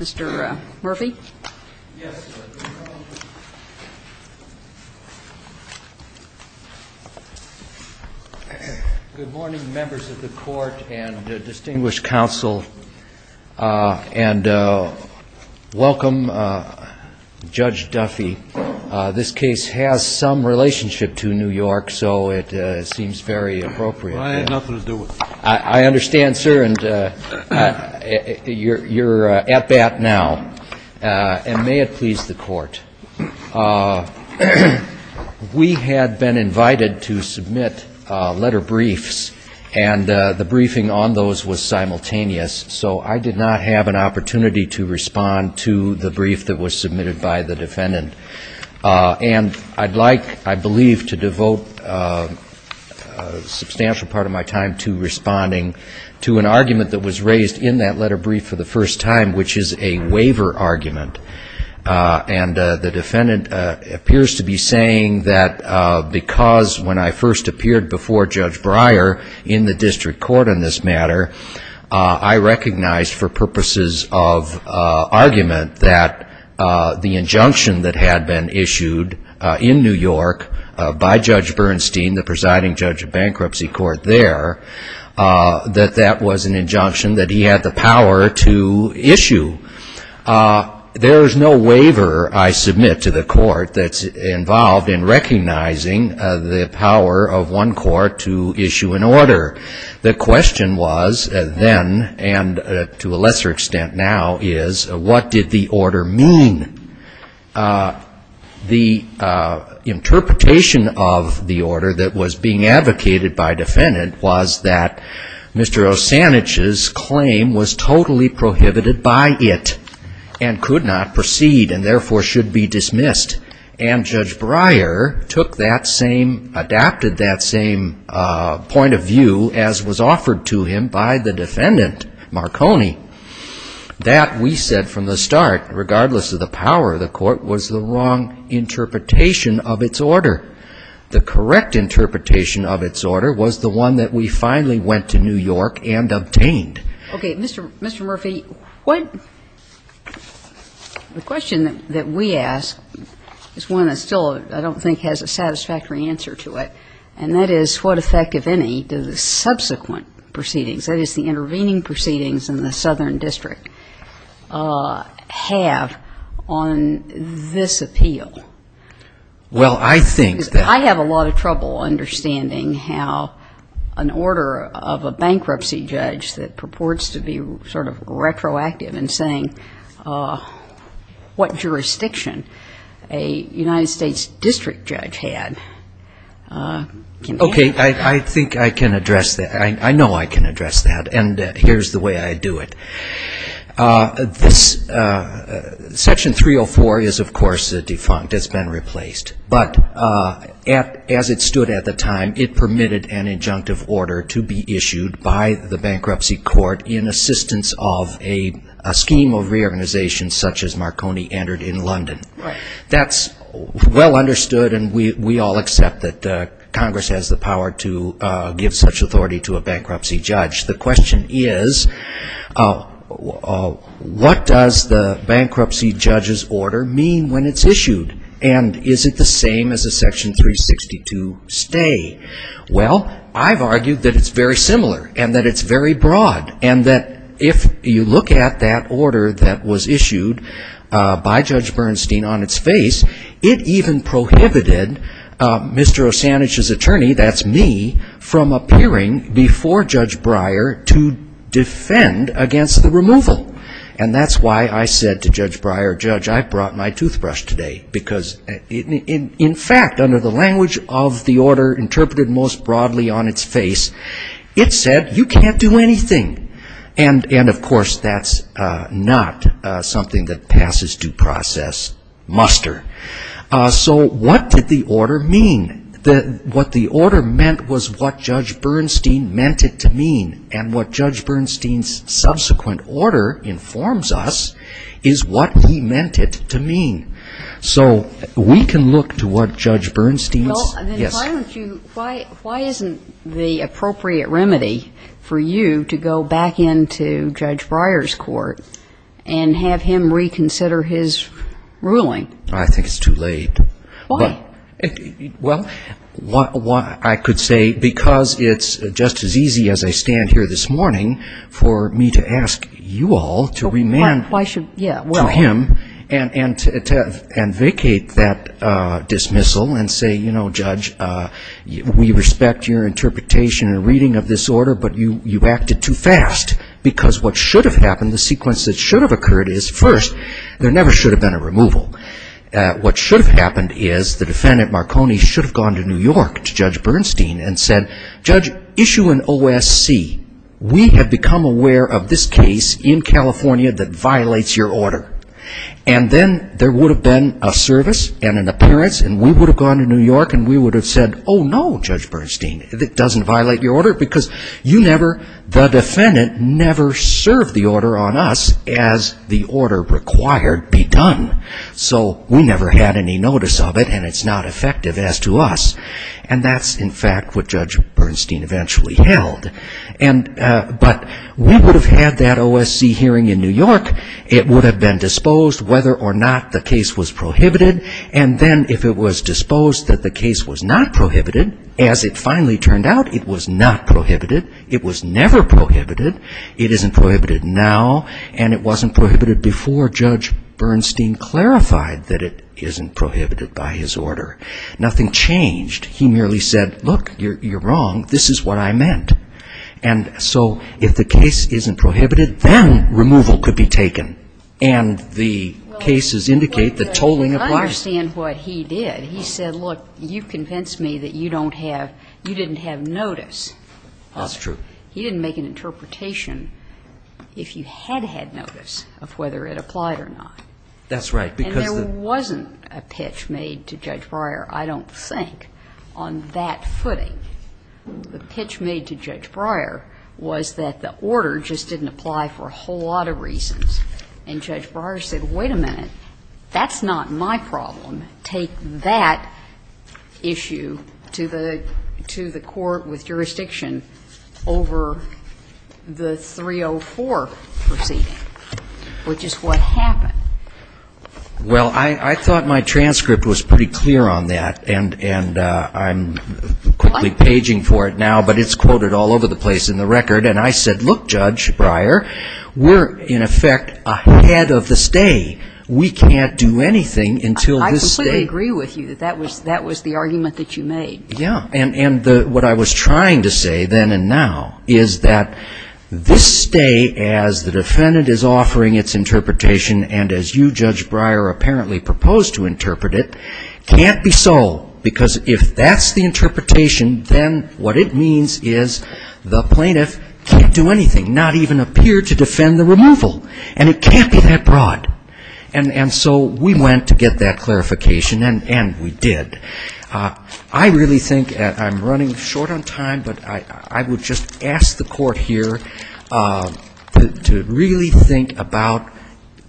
Mr. Murphy. Good morning, members of the court and distinguished counsel, and welcome Judge Duffy. This case has some relationship to New York, so it seems very appropriate. I understand, sir, and you're at bat now, and may it please the court. We had been invited to submit letter briefs, and the briefing on those was simultaneous, so I did not have an opportunity to respond to the brief that was submitted by the defendant. And I'd like, I believe, to devote a substantial part of my time to responding to an argument that was raised in that letter brief for the first time, which is a waiver argument. And the defendant appears to be saying that because when I first appeared before Judge Breyer in the district court on this matter, I recognized for purposes of argument that the injunction that had been issued in New York by Judge Bernstein, the presiding judge of bankruptcy court there, that that was an injunction that he had the power to issue. There is no waiver I submit to the court that's involved in recognizing the power of one court to issue an order. The question was then, and to a lesser extent now, is what did the order mean? The interpretation of the order that was being advocated by defendant was that Mr. Osanich's claim was totally prohibited by it and could not proceed and therefore should be dismissed. And Judge Breyer took that same, adapted that same point of view as was offered to him by the defendant, Marconi. That, we said from the start, regardless of the power of the court, was the wrong interpretation of its order. The correct interpretation of its order was the one that we finally went to New York and obtained. Okay. Mr. Murphy, the question that we ask is one that still I don't think has a satisfactory answer to it, and that is what effect, if any, do the subsequent proceedings, that is, the intervening proceedings in the Southern District, have on this appeal? Well, I think that ---- Okay. I think I can address that. I know I can address that, and here's the way I do it. Section 304 is, of course, a defunct. It's been replaced. But as it stood at the time, it permitted an injunctive order to be issued by the bankruptcy court in assistance of a scheme of reorganization such as Marconi entered in London. That's well understood, and we all accept that Congress has the power to give such authority to a bankruptcy judge. The question is, what does the bankruptcy judge's order mean when it's issued, and is it the same as a Section 362 stay? Well, I've argued that it's very similar, and that it's very broad, and that if you look at that order that was issued by Judge Bernstein on its face, it even prohibited Mr. O'Sanich's attorney, that's me, from appearing before Judge Breyer to defend against the removal. And that's why I said to Judge Breyer, Judge, I brought my toothbrush today, because in fact, under the language of the order interpreted most broadly on its face, it said, you can't do anything. And, of course, that's not something that passes due process muster. So what did the order mean? What the order meant was what Judge Bernstein meant it to mean, and what Judge Bernstein's subsequent order informs us is what he meant it to mean. So we can look to what Judge Bernstein's ‑‑ Well, then why aren't you ‑‑ why isn't the appropriate remedy for you to go back into Judge Breyer's court and have him reconsider his ruling? I think it's too late. Why? Well, I could say because it's just as easy as I stand here this morning for me to ask you all to remand to him and vacate that dismissal and say, you know, Judge, we respect your interpretation and reading of this order, but you acted too fast because what should have happened, the sequence that should have occurred is, first, there never should have been a removal. What should have happened is the defendant Marconi should have gone to New York to Judge Bernstein and said, Judge, issue an OSC. We have become aware of this case in California that violates your order. And then there would have been a service and an appearance and we would have gone to New York and we would have said, oh, no, Judge Bernstein, it doesn't violate your order because you never, the defendant never served the order on us as the order required be done. So we never had any notice of it and it's not effective as to us. And that's, in fact, what Judge Bernstein eventually held. But we would have had that OSC hearing in New York. It would have been disposed whether or not the case was prohibited. And then if it was disposed that the case was not prohibited, as it finally turned out, it was not prohibited. It was never prohibited. It isn't prohibited now and it wasn't prohibited before Judge Bernstein clarified that it isn't prohibited by his order. Nothing changed. He merely said, look, you're wrong. This is what I meant. And so if the case isn't prohibited, then removal could be taken. And the cases indicate the tolling of the case. But I understand what he did. He said, look, you've convinced me that you don't have, you didn't have notice. That's true. He didn't make an interpretation if you had had notice of whether it applied or not. That's right. And there wasn't a pitch made to Judge Breyer, I don't think. On that footing, the pitch made to Judge Breyer was that the order just didn't apply for a whole lot of reasons. And Judge Breyer said, wait a minute, that's not my problem. Take that issue to the court with jurisdiction over the 304 proceeding, which is what happened. Well, I thought my transcript was pretty clear on that. And I'm quickly paging for it now, but it's quoted all over the place in the record. And I said, look, Judge Breyer, we're, in effect, ahead of the stay. We can't do anything until this stay. I completely agree with you that that was the argument that you made. Yeah. And what I was trying to say then and now is that this stay, as the defendant is offering its interpretation, and as you, Judge Breyer, apparently proposed to interpret it, can't be sold. Because if that's the interpretation, then what it means is the plaintiff can't do anything, not even appear to defend the removal. And it can't be that broad. And so we went to get that clarification, and we did. I really think, and I'm running short on time, but I would just ask the court here to really think about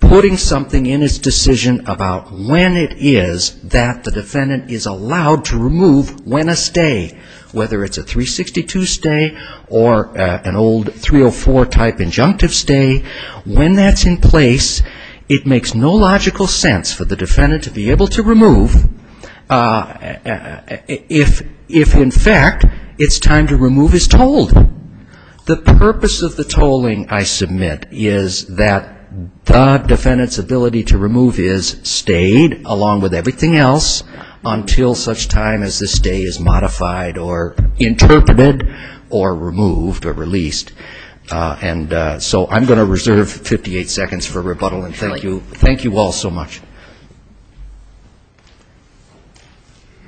putting something in its decision about when it is that the defendant is allowed to remove when a stay, whether it's a 362 stay or an old 304-type injunctive stay. When that's in place, it makes no logical sense for the defendant to be able to remove if, in fact, it's time to remove his tolling. The purpose of the tolling, I submit, is that the defendant's ability to remove his stayed, along with everything else, until such time as the stay is modified or interpreted or removed or released. And so I'm going to reserve 58 seconds for rebuttal, and thank you all so much.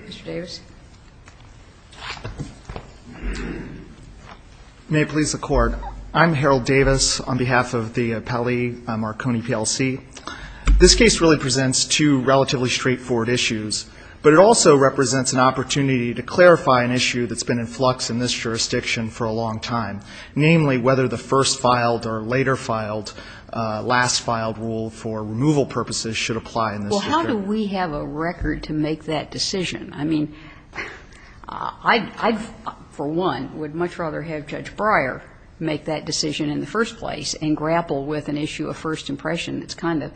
Ms. Davis. May it please the Court. I'm Harold Davis on behalf of the appellee, Marconi, PLC. This case really presents two relatively straightforward issues, but it also represents an opportunity to clarify an issue that's been in flux in this jurisdiction for a long time, namely whether the first-filed or later-filed, last-filed rule for removal purposes should apply in this jurisdiction. Well, how do we have a record to make that decision? I mean, I for one would much rather have Judge Breyer make that decision in the first place and grapple with an issue of first impression that's kind of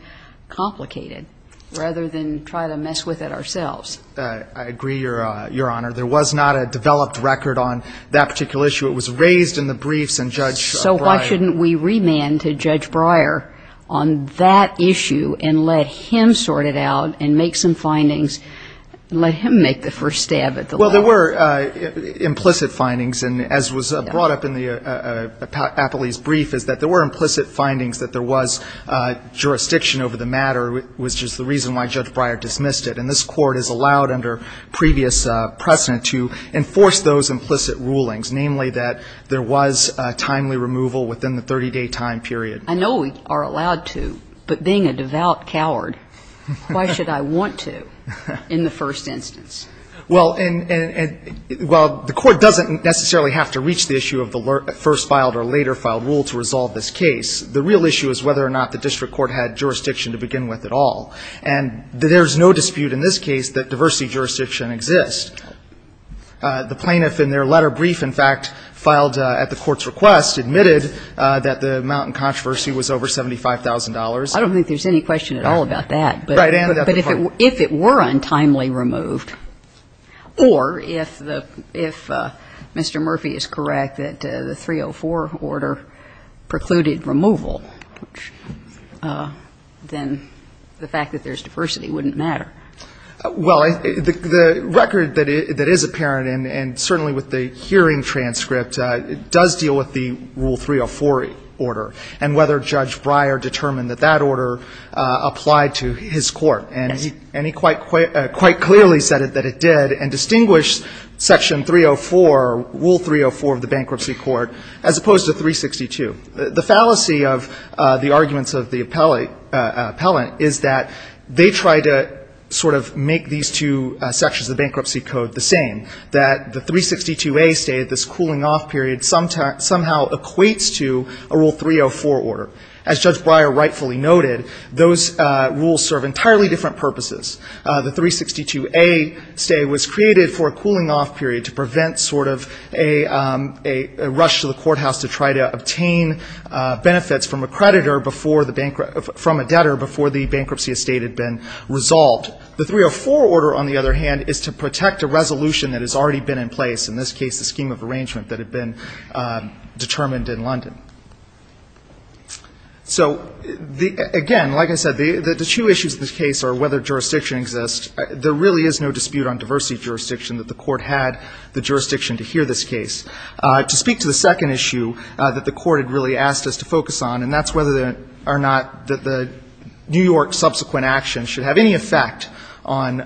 complicated rather than try to mess with it ourselves. I agree, Your Honor. There was not a developed record on that particular issue. It was raised in the briefs and Judge Breyer ---- So why shouldn't we remand to Judge Breyer on that issue and let him sort it out and make some findings, let him make the first stab at the law? Well, there were implicit findings, and as was brought up in the appellee's brief is that there were implicit findings that there was jurisdiction over the matter, which is the reason why Judge Breyer dismissed it. And this Court has allowed under previous precedent to enforce those implicit rulings, namely that there was timely removal within the 30-day time period. I know we are allowed to, but being a devout coward, why should I want to in the first instance? Well, and while the Court doesn't necessarily have to reach the issue of the first-filed or later-filed rule to resolve this case, the real issue is whether or not the district court had jurisdiction to begin with at all. And there's no dispute in this case that diversity jurisdiction exists. The plaintiff in their letter brief, in fact, filed at the Court's request, admitted that the amount in controversy was over $75,000. I don't think there's any question at all about that. But if it were untimely removed, or if Mr. Murphy is correct that the 304 order precluded removal, then the fact that there's diversity wouldn't matter. Well, the record that is apparent, and certainly with the hearing transcript, does deal with the Rule 304 order and whether Judge Breyer determined that that order applied to his court. And he quite clearly said that it did, and distinguished Section 304, Rule 304 of the Bankruptcy Court, as opposed to 362. The fallacy of the arguments of the appellant is that they try to sort of make these two sections of the Bankruptcy Code the same, that the 362A stay, this cooling-off period, somehow equates to a Rule 304 order. As Judge Breyer rightfully noted, those rules serve entirely different purposes. The 362A stay was created for a cooling-off period to prevent sort of a rush to the bankruptcy estate. The 304 order, on the other hand, is to protect a resolution that has already been in place, in this case, the scheme of arrangement that had been determined in London. So, again, like I said, the two issues of this case are whether jurisdiction exists. There really is no dispute on diversity of jurisdiction that the Court had the jurisdiction to hear this case. To speak to the second issue that the Court had really asked us to focus on, and that's whether or not the New York subsequent action should have any effect on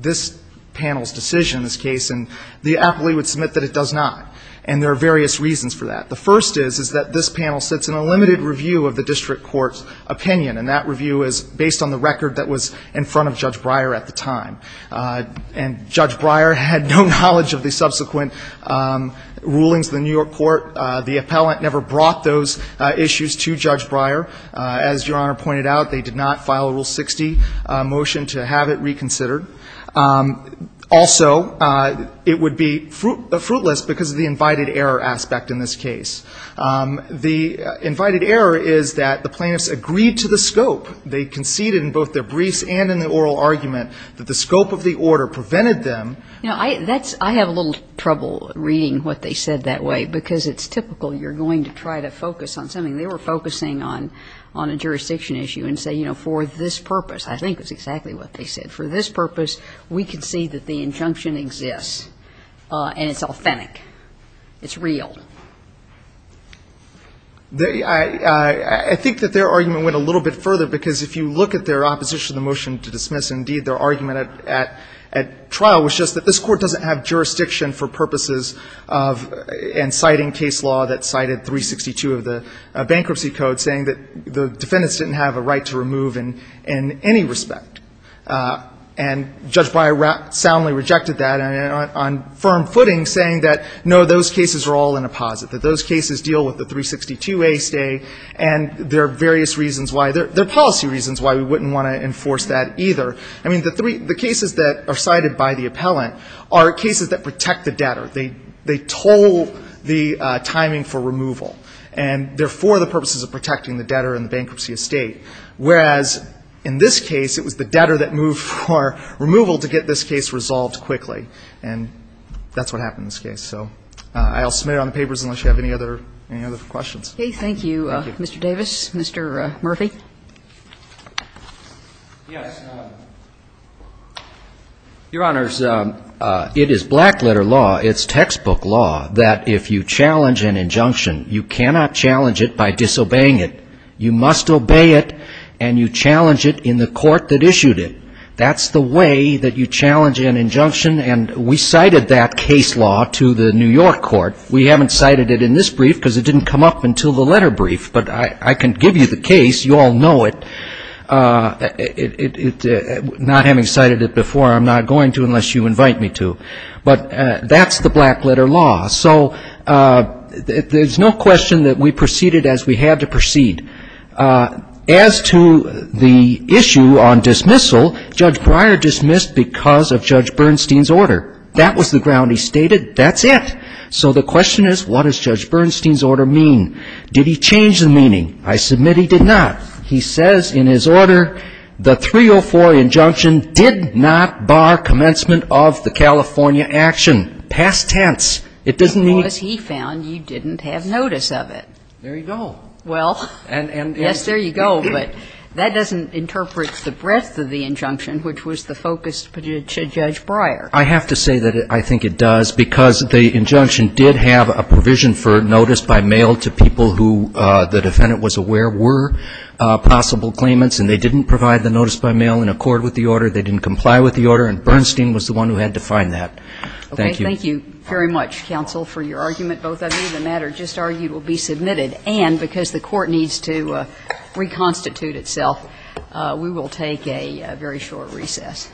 this panel's decision in this case, and the appellee would submit that it does not, and there are various reasons for that. The first is, is that this panel sits in a limited review of the district court's opinion, and that review is based on the record that was in front of Judge Breyer at the time. And Judge Breyer had no knowledge of the subsequent rulings of the New York Court. The appellant never brought those issues to Judge Breyer. As Your Honor pointed out, they did not file a Rule 60 motion to have it reconsidered. Also, it would be fruitless because of the invited error aspect in this case. The invited error is that the plaintiffs agreed to the scope. They conceded in both their briefs and in the oral argument that the scope of the order prevented them. Now, I have a little trouble reading what they said that way because it's typical you're going to try to focus on something. They were focusing on a jurisdiction issue and say, you know, for this purpose. I think that's exactly what they said. For this purpose, we concede that the injunction exists and it's authentic. It's real. I think that their argument went a little bit further because if you look at their opposition to the motion to dismiss, indeed, their argument at trial was just that this Court doesn't have jurisdiction for purposes of inciting case law that cited 362 of the Bankruptcy Code saying that the defendants didn't have a right to remove in any respect. And Judge Breyer soundly rejected that on firm footing, saying that, no, those cases are all in a posit, that those cases deal with the 362A stay and there are various reasons why. There are policy reasons why we wouldn't want to enforce that either. I mean, the cases that are cited by the appellant are cases that protect the debtor. They toll the timing for removal. And they're for the purposes of protecting the debtor and the bankruptcy estate, whereas in this case, it was the debtor that moved for removal to get this case resolved quickly. And that's what happened in this case. So I'll submit it on the papers unless you have any other questions. Okay. Thank you, Mr. Davis. Mr. Murphy. Yes. Your Honors, it is black letter law, it's textbook law, that if you challenge an injunction, you cannot challenge it by disobeying it. You must obey it and you challenge it in the court that issued it. That's the way that you challenge an injunction. And we cited that case law to the New York court. We haven't cited it in this brief because it didn't come up until the letter brief, but I can give you the case. You all know it. Not having cited it before, I'm not going to unless you invite me to. But that's the black letter law. So there's no question that we proceeded as we had to proceed. So the question is, what does Judge Bernstein's order mean? Did he change the meaning? I submit he did not. He says in his order, the 304 injunction did not bar commencement of the California action. Past tense. It doesn't mean he found you didn't have notice of it. There you go. Well, yes, there you go, but that doesn't interpret the breadth of the injunction, which was the focus to Judge Breyer. I have to say that I think it does because the injunction did have a provision for notice by mail to people who the defendant was aware were possible claimants and they didn't provide the notice by mail in accord with the order. They didn't comply with the order and Bernstein was the one who had to find that. Thank you. Okay. Thank you very much, counsel, for your argument. Both of you, the matter just argued will be submitted and because the court needs to reconstitute itself, we will take a very short recess.